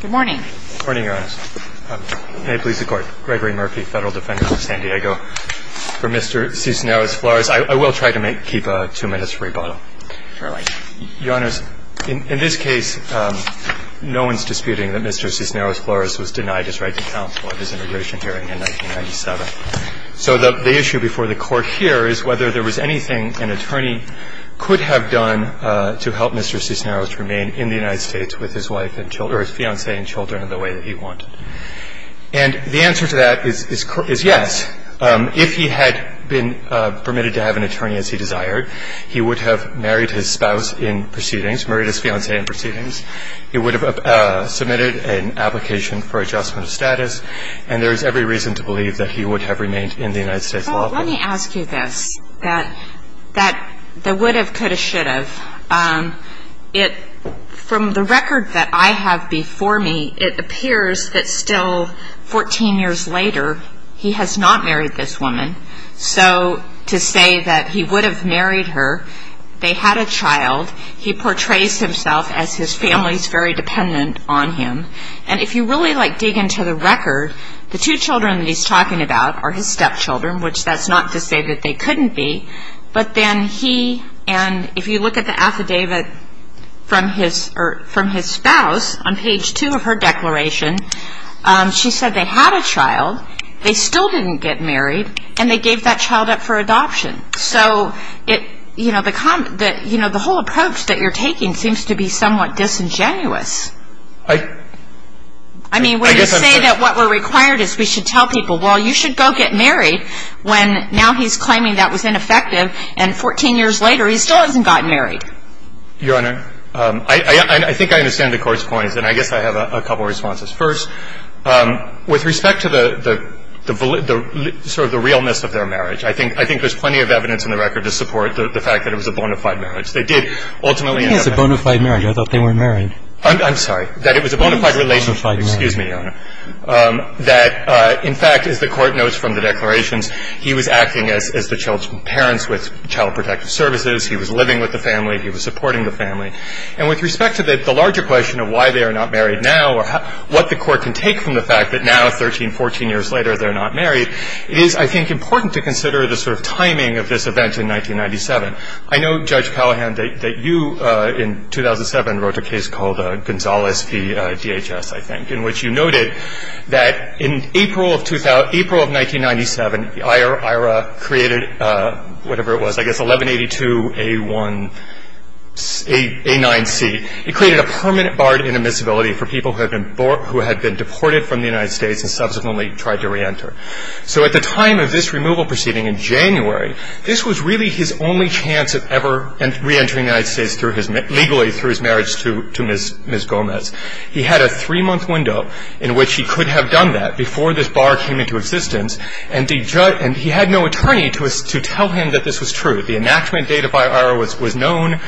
Good morning. Good morning, Your Honor. May it please the Court, Gregory Murphy, Federal Defender of San Diego, for Mr. Cisneros-Flores. I will try to keep a two-minute rebuttal. Surely. Your Honor, in this case, no one is disputing that Mr. Cisneros-Flores was denied his right to counsel at his immigration hearing in 1997. So the issue before the Court here is whether there was anything an attorney could have done to help Mr. Cisneros remain in the United States with his wife and children or his fiancée and children in the way that he wanted. And the answer to that is yes. If he had been permitted to have an attorney as he desired, he would have married his spouse in proceedings, married his fiancée in proceedings. He would have submitted an application for adjustment of status. And there is every reason to believe that he would have remained in the United States law firm. Let me ask you this, that the would have, could have, should have. From the record that I have before me, it appears that still 14 years later, he has not married this woman. So to say that he would have married her, they had a child, he portrays himself as his family's very dependent on him. And if you really like dig into the record, the two children that he's talking about are his stepchildren, which that's not to say that they couldn't be. But then he, and if you look at the affidavit from his spouse on page 2 of her declaration, she said they had a child. They still didn't get married. And they gave that child up for adoption. So, you know, the whole approach that you're taking seems to be somewhat disingenuous. I mean, when you say that what we're required is we should tell people, well, you should go get married, when now he's claiming that was ineffective, and 14 years later, he still hasn't gotten married. Your Honor, I think I understand the Court's points. And I guess I have a couple of responses. First, with respect to the sort of the realness of their marriage, I think there's plenty of evidence in the record to support the fact that it was a bona fide marriage. They did ultimately have a child. It was a bona fide marriage. I thought they weren't married. I'm sorry. That it was a bona fide relationship. It was a bona fide marriage. Excuse me, Your Honor. That, in fact, as the Court notes from the declarations, he was acting as the child's parents with Child Protective Services. He was living with the family. He was supporting the family. And with respect to the larger question of why they are not married now or what the Court can take from the fact that now, 13, 14 years later, they're not married, it is, I think, important to consider the sort of timing of this event in 1997. I know, Judge Callahan, that you, in 2007, wrote a case called Gonzales v. DHS, I think, in which you noted that in April of 1997, IRA created whatever it was, I guess, 1182A1A9C. It created a permanent barred intermissibility for people who had been deported from the United States and subsequently tried to reenter. So at the time of this removal proceeding in January, this was really his only chance of ever reentering the United States legally through his marriage to Ms. Gomez. He had a three-month window in which he could have done that before this bar came into existence, and he had no attorney to tell him that this was true. The enactment date of IRA was known.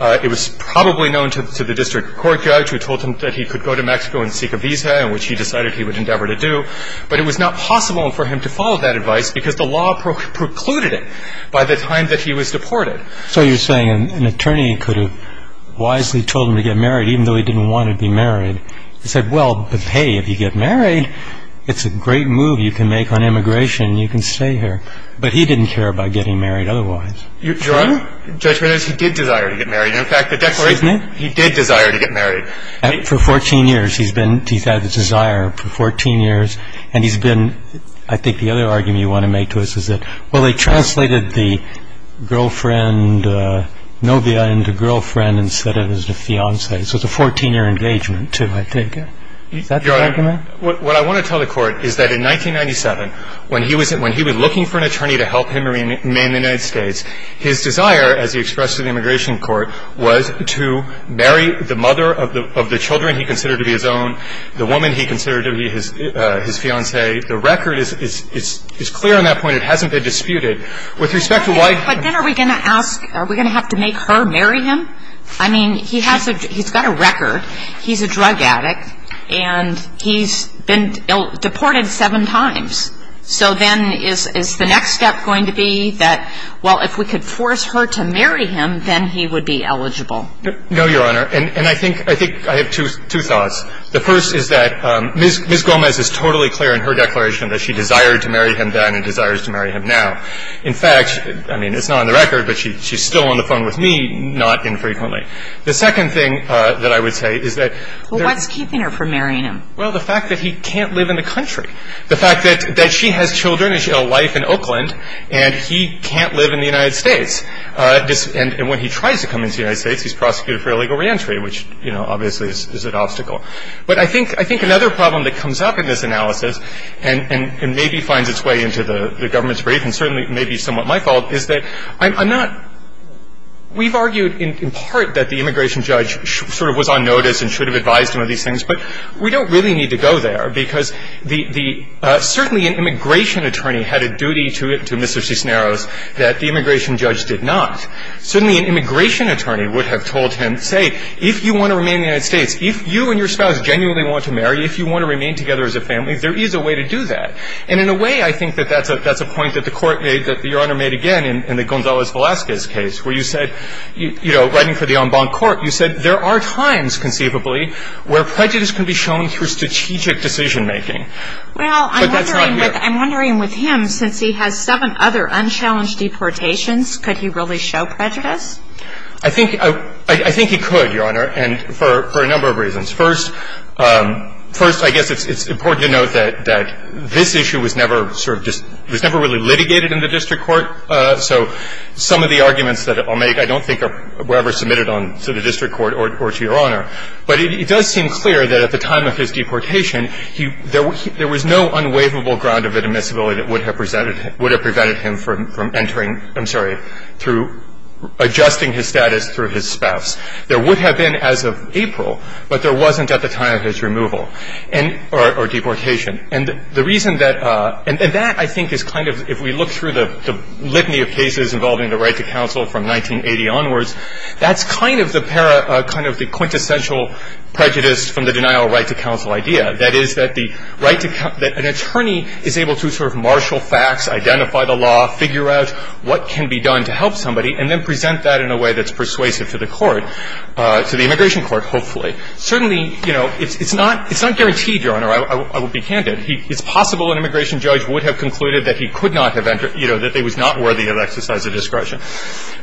It was probably known to the district court judge who told him that he could go to Mexico and seek a visa, which he decided he would endeavor to do. But it was not possible for him to follow that advice because the law precluded it by the time that he was deported. So you're saying an attorney could have wisely told him to get married even though he didn't want to be married. He said, well, hey, if you get married, it's a great move you can make on immigration. You can stay here. But he didn't care about getting married otherwise. Your Honor, the judgment is he did desire to get married. In fact, the declaration, he did desire to get married. I think for 14 years he's been, he's had the desire for 14 years. And he's been, I think the other argument you want to make to us is that, well, they translated the girlfriend, novia, into girlfriend and said it was the fiance. So it's a 14-year engagement, too, I think. Is that the argument? Your Honor, what I want to tell the Court is that in 1997, when he was looking for an attorney to help him remain in the United States, his desire, as he expressed to the Immigration Court, was to marry the mother of the children he considered to be his own, the woman he considered to be his fiancée. The record is clear on that point. It hasn't been disputed. With respect to why he was married. But then are we going to ask, are we going to have to make her marry him? I mean, he has a, he's got a record. He's a drug addict. And he's been deported seven times. So then is the next step going to be that, well, if we could force her to marry him, then he would be eligible? No, Your Honor. And I think, I think I have two thoughts. The first is that Ms. Gomez is totally clear in her declaration that she desired to marry him then and desires to marry him now. In fact, I mean, it's not on the record, but she's still on the phone with me, not infrequently. The second thing that I would say is that there's What's keeping her from marrying him? Well, the fact that he can't live in the country. The fact that she has children and she had a life in Oakland, and he can't live in the United States. And when he tries to come into the United States, he's prosecuted for illegal reentry, which, you know, obviously is an obstacle. But I think another problem that comes up in this analysis and maybe finds its way into the government's brief, and certainly may be somewhat my fault, is that I'm not, we've argued in part that the immigration judge sort of was on notice and should have advised him of these things. But we don't really need to go there, because the certainly an immigration attorney had a duty to Mr. Cisneros that the immigration judge did not. Certainly, an immigration attorney would have told him, say, if you want to remain in the United States, if you and your spouse genuinely want to marry, if you want to remain together as a family, there is a way to do that. And in a way, I think that that's a point that the Court made, that Your Honor made again in the Gonzalez-Velasquez case, where you said, you know, writing for the en banc court, you said there are times, conceivably, where prejudice can be shown through strategic decision-making. But that's not here. Well, I'm wondering with him, since he has seven other unchallenged deportations, could he really show prejudice? I think he could, Your Honor, and for a number of reasons. First, I guess it's important to note that this issue was never sort of just, was never really litigated in the district court. So some of the arguments that I'll make, I don't think, were ever submitted to the district court or to Your Honor. But it does seem clear that at the time of his deportation, there was no unwaivable ground of admissibility that would have prevented him from entering, I'm sorry, through adjusting his status through his spouse. There would have been as of April, but there wasn't at the time of his removal or deportation. And the reason that, and that, I think, is kind of, if we look through the litany of cases involving the right to counsel from 1980 onwards, that's kind of the quintessential prejudice from the denial of right to counsel idea. That is, that the right to counsel, that an attorney is able to sort of marshal facts, identify the law, figure out what can be done to help somebody, and then present that in a way that's persuasive to the court, to the immigration court, hopefully. Certainly, you know, it's not, it's not guaranteed, Your Honor. I will be candid. It's possible an immigration judge would have concluded that he could not have entered, you know, that he was not worthy of exercise of discretion.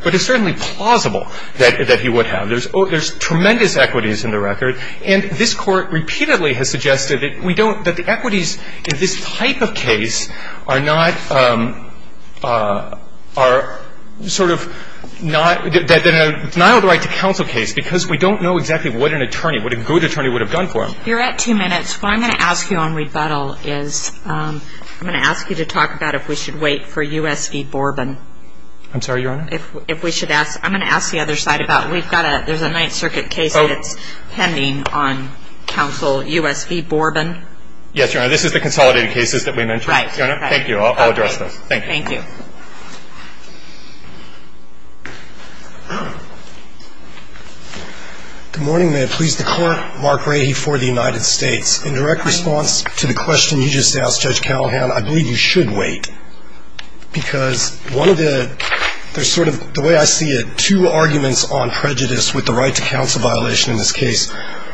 But it's certainly plausible that he would have. There's tremendous equities in the record. And this Court repeatedly has suggested that we don't, that the equities in this type of case are not, are sort of not, that in a denial of right to counsel case, because we don't know exactly what an attorney, what a good attorney would have done for him. You're at two minutes. What I'm going to ask you on rebuttal is, I'm going to ask you to talk about if we should wait for U.S. v. Borben. I'm sorry, Your Honor? If we should ask, I'm going to ask the other side about it. We've got a, there's a Ninth Circuit case that's pending on counsel U.S. v. Borben. Yes, Your Honor. This is the consolidated cases that we mentioned. Right. Thank you. I'll address those. Thank you. Thank you. Good morning. May it please the Court. Mark Rahe for the United States. In direct response to the question you just asked, Judge Callahan, I believe you should wait, because one of the, there's sort of, the way I see it, two arguments on prejudice with the right to counsel violation in this case.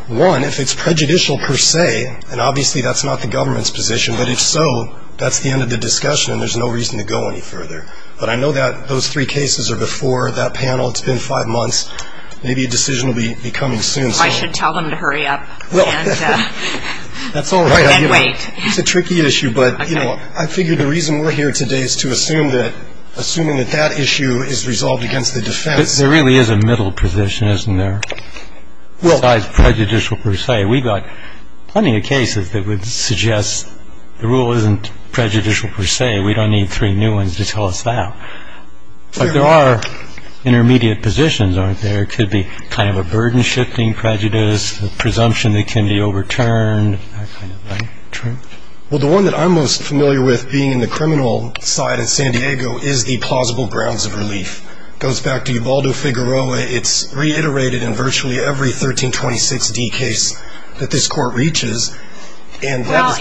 One, if it's prejudicial per se, and obviously that's not the government's position, but if so, that's the end of the discussion and there's no reason to go any further. Thank you. Thank you. Thank you. Thank you. Thank you. Thank you. Thank you. Thank you. Thank you. Thank you. I know that we don't have to go any further. But I know that those three cases are before that panel. It's been five months. Maybe a decision will be coming soon. So I should tell them to hurry up, and then wait. That's all right. It's a tricky issue, but you know, I figure the reason we're here today is to assume that, assuming that that issue is resolved against the defense. There really is a middle position, isn't there? Well... Besides prejudicial per se. We've got plenty of cases that would suggest the rule isn't prejudicial per se. We don't need three new ones. Does that make sense? Sure. Yeah. If you don't, then you can't tell us that. Fair enough. But there are intermediate positions, aren't there? It could be kind of a burden shifting prejudice, a presumption that can be overturned. That kind of thing. Truth? Well, the one that I'm most familiar with being in the criminal side in San Diego is the plausible grounds of relief. It goes back to Ubaldo-Figueroa. It's reiterated in virtually every 1326-D case that this Court reaches. And that is...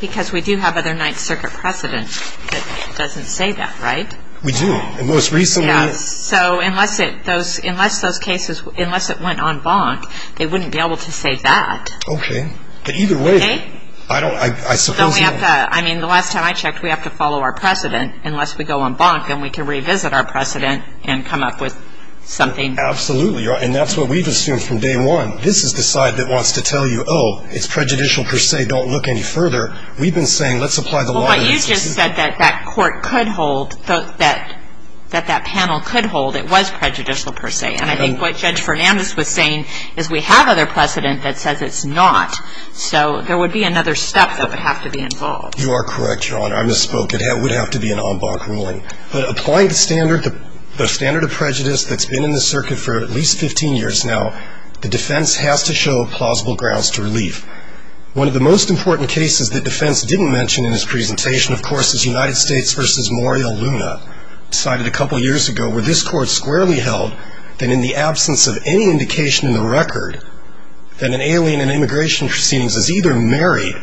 Because we do have other Ninth Circuit precedent that doesn't say that, right? We do. And most recently... Yeah. So unless it... Unless those cases... Unless it went en banc, they wouldn't be able to say that. Okay. But either way... Okay? I don't... I suppose... Don't we have to... I mean, the last time I checked, we have to follow our precedent. Unless we go en banc, then we can revisit our precedent and come up with something... Absolutely. And that's what we've assumed from day one. This is the side that wants to tell you, oh, it's prejudicial per se, don't look any further. We've been saying, let's apply the law... Well, but you just said that that Court could hold... That that panel could hold it was prejudicial per se. And I think what Judge Fernandez was saying is we have other precedent that says it's not. So there would be another step that would have to be involved. You are correct, Your Honor. I misspoke. It would have to be an en banc ruling. But applying the standard, the standard of prejudice that's been in the circuit for at least 15 years now, the defense has to show plausible grounds to relief. One of the most important cases that defense didn't mention in its presentation, of course, is United States v. Morial Luna, decided a couple years ago, where this Court squarely held that in the absence of any indication in the record that an alien in immigration proceedings is either married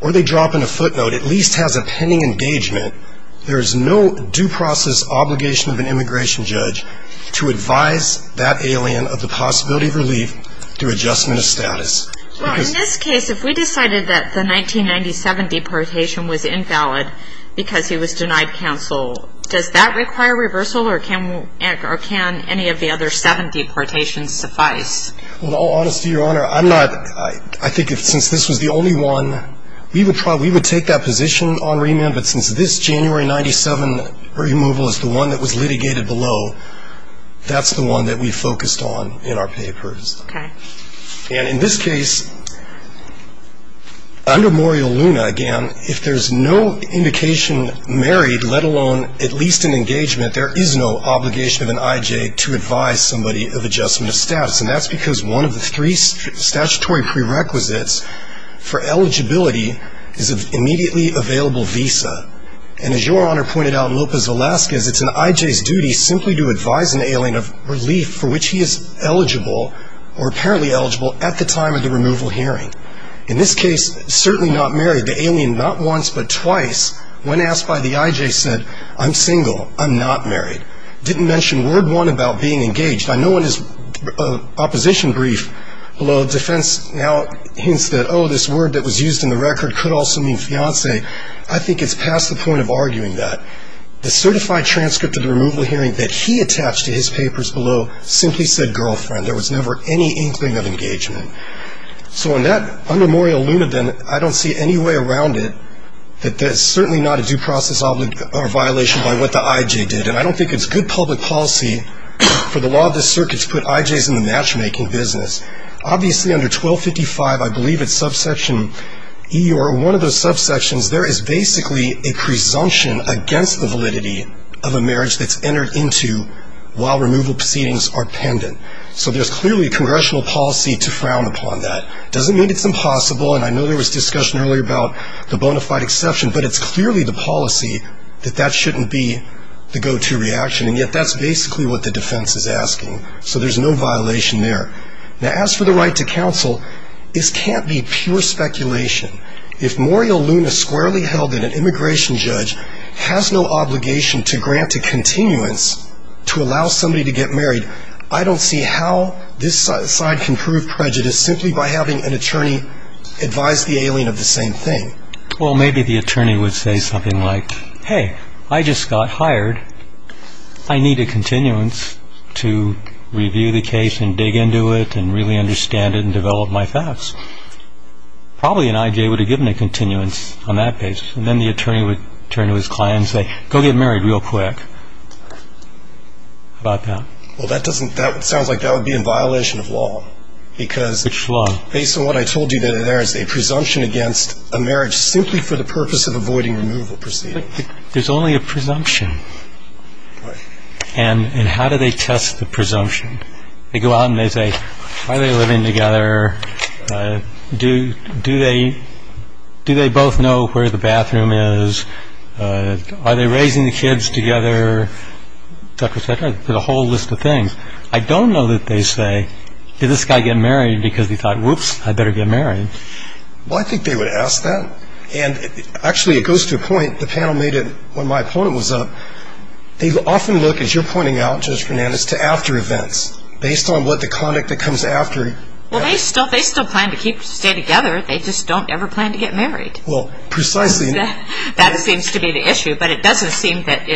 or they drop in a footnote, at least has a pending engagement, there is no due process obligation of an immigration judge to advise that alien of the possibility of relief through adjustment of status. Well, in this case, if we decided that the 1997 deportation was invalid because he was denied counsel, does that require reversal or can any of the other seven deportations suffice? Well, in all honesty, Your Honor, I'm not... I think since this was the only one, we would take that position on remand. But since this January 1997 removal is the one that was litigated below, that's the one that we focused on in our papers. Okay. And in this case, under Morial Luna, again, if there's no indication married, let alone at least an engagement, there is no obligation of an IJ to advise somebody of adjustment of status. And that's because one of the three statutory prerequisites for eligibility is an immediately available visa. And as Your Honor pointed out in Lopez Velasquez, it's an IJ's duty simply to advise an alien of relief for which he is eligible or apparently eligible at the time of the removal hearing. In this case, certainly not married, the alien not once but twice when asked by the IJ said, I'm single, I'm not married. Didn't mention word one about being engaged. I know in his opposition brief below, defense now hints that, oh, this word that was used in the record could also mean fiance. I think it's past the point of arguing that. The certified transcript of the removal hearing that he attached to his papers below simply said girlfriend. There was never any inkling of engagement. So in that, under Morial Luna, then, I don't see any way around it that that's certainly not a due process violation by what the IJ did. And I don't think it's good public policy for the law of the circuits to put IJs in the matchmaking business. Obviously, under 1255, I believe it's subsection E or one of those subsections, there is basically a presumption against the validity of a marriage that's entered into while removal proceedings are pendent. So there's clearly a congressional policy to frown upon that. Doesn't mean it's impossible, and I know there was discussion earlier about the bona fide exception, but it's clearly the policy that that shouldn't be the go-to reaction, and yet that's basically what the defense is asking. So there's no violation there. Now, as for the right to counsel, this can't be pure speculation. If Morial Luna squarely held that an immigration judge has no obligation to grant a continuance to allow somebody to get married, I don't see how this side can prove prejudice simply by having an attorney advise the alien of the same thing. Well, maybe the attorney would say something like, hey, I just got hired. I need a continuance to review the case and dig into it and really understand it and develop my facts. Probably an IJ would have given a continuance on that basis, and then the attorney would turn to his client and say, go get married real quick. How about that? Well, that sounds like that would be in violation of law. Which law? Based on what I told you, there is a presumption against a marriage simply for the purpose of avoiding removal proceedings. But there's only a presumption. Right. And how do they test the presumption? They go out and they say, are they living together? Do they both know where the bathroom is? Are they raising the kids together, et cetera, et cetera? There's a whole list of things. I don't know that they say, did this guy get married because he thought, whoops, I better get married. Well, I think they would ask that. And actually it goes to a point, the panel made it when my opponent was up, they often look, as you're pointing out, Judge Fernandez, to after events based on what the conduct that comes after. Well, they still plan to stay together. They just don't ever plan to get married. Well, precisely. That seems to be the issue. But it doesn't seem that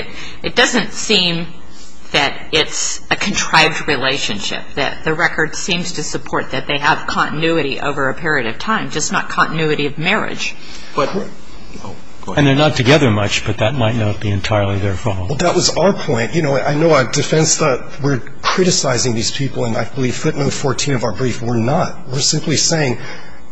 it's a contrived relationship, that the record seems to support that they have continuity over a period of time, just not continuity of marriage. And they're not together much, but that might not be entirely their fault. Well, that was our point. You know, I know our defense thought we're criticizing these people, and I believe footnote 14 of our brief, we're not. We're simply saying,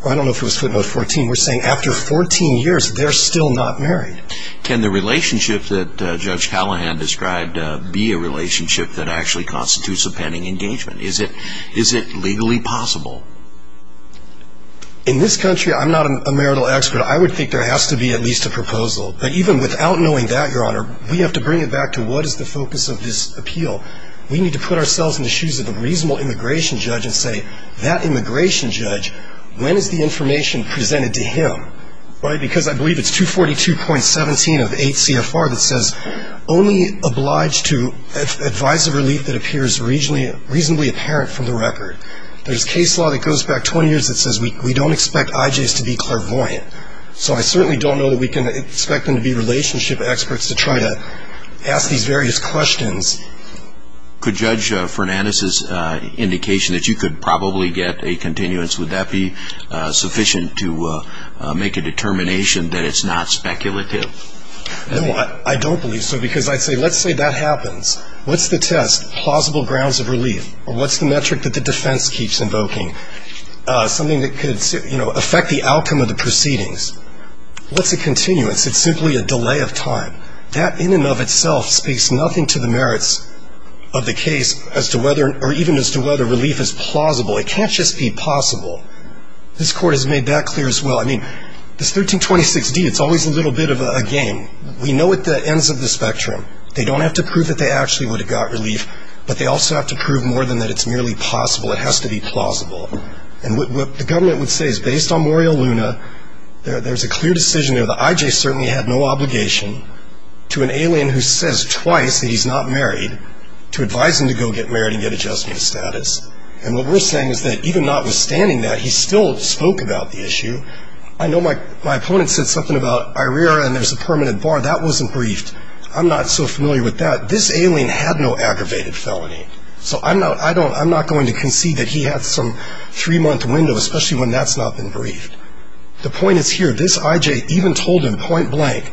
I don't know if it was footnote 14, we're saying after 14 years they're still not married. Can the relationship that Judge Callahan described be a relationship that actually constitutes a pending engagement? Is it legally possible? In this country, I'm not a marital expert. I would think there has to be at least a proposal. But even without knowing that, Your Honor, we have to bring it back to what is the focus of this appeal. We need to put ourselves in the shoes of a reasonable immigration judge and say, that immigration judge, when is the information presented to him? Right, because I believe it's 242.17 of 8 CFR that says, only obliged to advise of relief that appears reasonably apparent from the record. There's case law that goes back 20 years that says we don't expect IJs to be clairvoyant. So I certainly don't know that we can expect them to be relationship experts to try to ask these various questions. Could Judge Fernandez's indication that you could probably get a continuance, would that be sufficient to make a determination that it's not speculative? No, I don't believe so, because I'd say, let's say that happens. What's the test? Plausible grounds of relief. Or what's the metric that the defense keeps invoking? Something that could affect the outcome of the proceedings. What's a continuance? It's simply a delay of time. That in and of itself speaks nothing to the merits of the case or even as to whether relief is plausible. It can't just be possible. This Court has made that clear as well. I mean, this 1326D, it's always a little bit of a game. We know at the ends of the spectrum. They don't have to prove that they actually would have got relief, but they also have to prove more than that it's merely possible. It has to be plausible. And what the government would say is based on Morial Luna, there's a clear decision there that IJ certainly had no obligation to an alien who says twice that he's not married to advise him to go get married and get adjustment status. And what we're saying is that even notwithstanding that, he still spoke about the issue. I know my opponent said something about IRERA and there's a permanent bar. That wasn't briefed. I'm not so familiar with that. This alien had no aggravated felony. So I'm not going to concede that he had some three-month window, especially when that's not been briefed. The point is here, this IJ even told him point blank,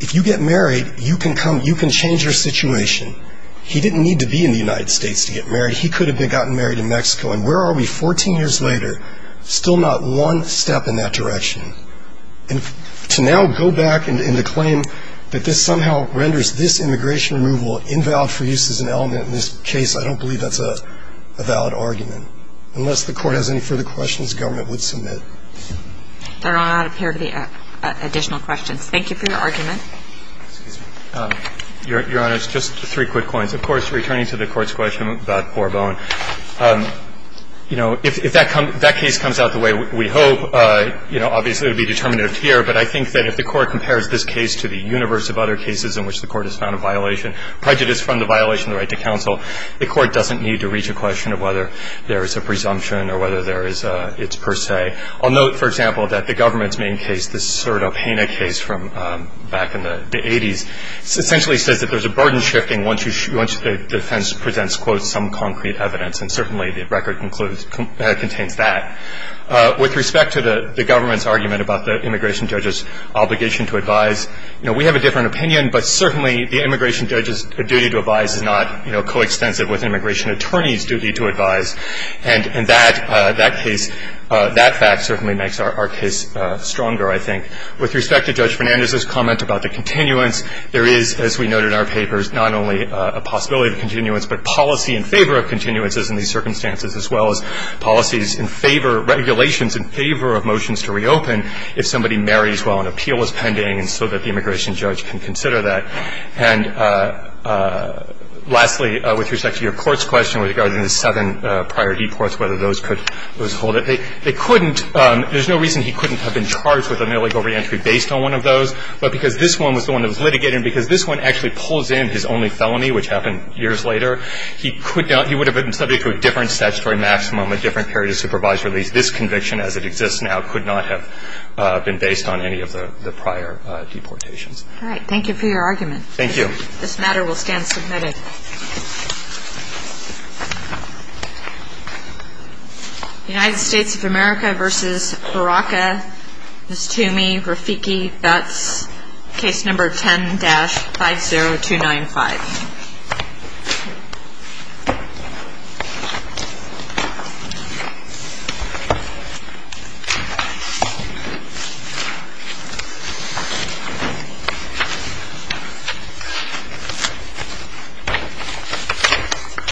if you get married, you can come, you can change your situation. He didn't need to be in the United States to get married. He could have gotten married in Mexico. And where are we 14 years later? Still not one step in that direction. And to now go back and to claim that this somehow renders this immigration removal invalid for use as an element in this case, I don't believe that's a valid argument. Unless the Court has any further questions, government would submit. There are not a pair of additional questions. Thank you for your argument. Your Honor, just three quick points. Of course, returning to the Court's question about forebone, you know, if that case comes out the way we hope, you know, obviously it would be determinative here. But I think that if the Court compares this case to the universe of other cases in which the Court has found a violation, prejudice from the violation of the right to counsel, the Court doesn't need to reach a question of whether there is a presumption or whether there is a it's per se. I'll note, for example, that the government's main case, this Serta-Pena case from back in the 80s, essentially says that there's a burden shifting once the defense presents, quote, some concrete evidence. And certainly the record contains that. With respect to the government's argument about the immigration judge's obligation to advise, you know, we have a different opinion, but certainly the immigration judge's duty to advise is not, you know, coextensive with an immigration attorney's duty to advise. And that case, that fact certainly makes our case stronger, I think. With respect to Judge Fernandez's comment about the continuance, there is, as we note in our papers, not only a possibility of continuance, but policy in favor of continuances in these circumstances as well as policies in favor, regulations in favor of motions to reopen if somebody marries while an appeal is pending and so that the immigration judge can consider that. And lastly, with respect to your Court's question regarding the seven prior deports, whether those could withhold it, they couldn't. There's no reason he couldn't have been charged with an illegal reentry based on one of those. But because this one was the one that was litigated and because this one actually pulls in his only felony, which happened years later, he could not, he would have been subject to a different statutory maximum, a different period of supervised release. This conviction as it exists now could not have been based on any of the prior deportations. All right. Thank you for your argument. Thank you. This matter will stand submitted. United States of America v. Baraka, Miss Toomey, Rafiki, that's case number 10-50295. Thank you.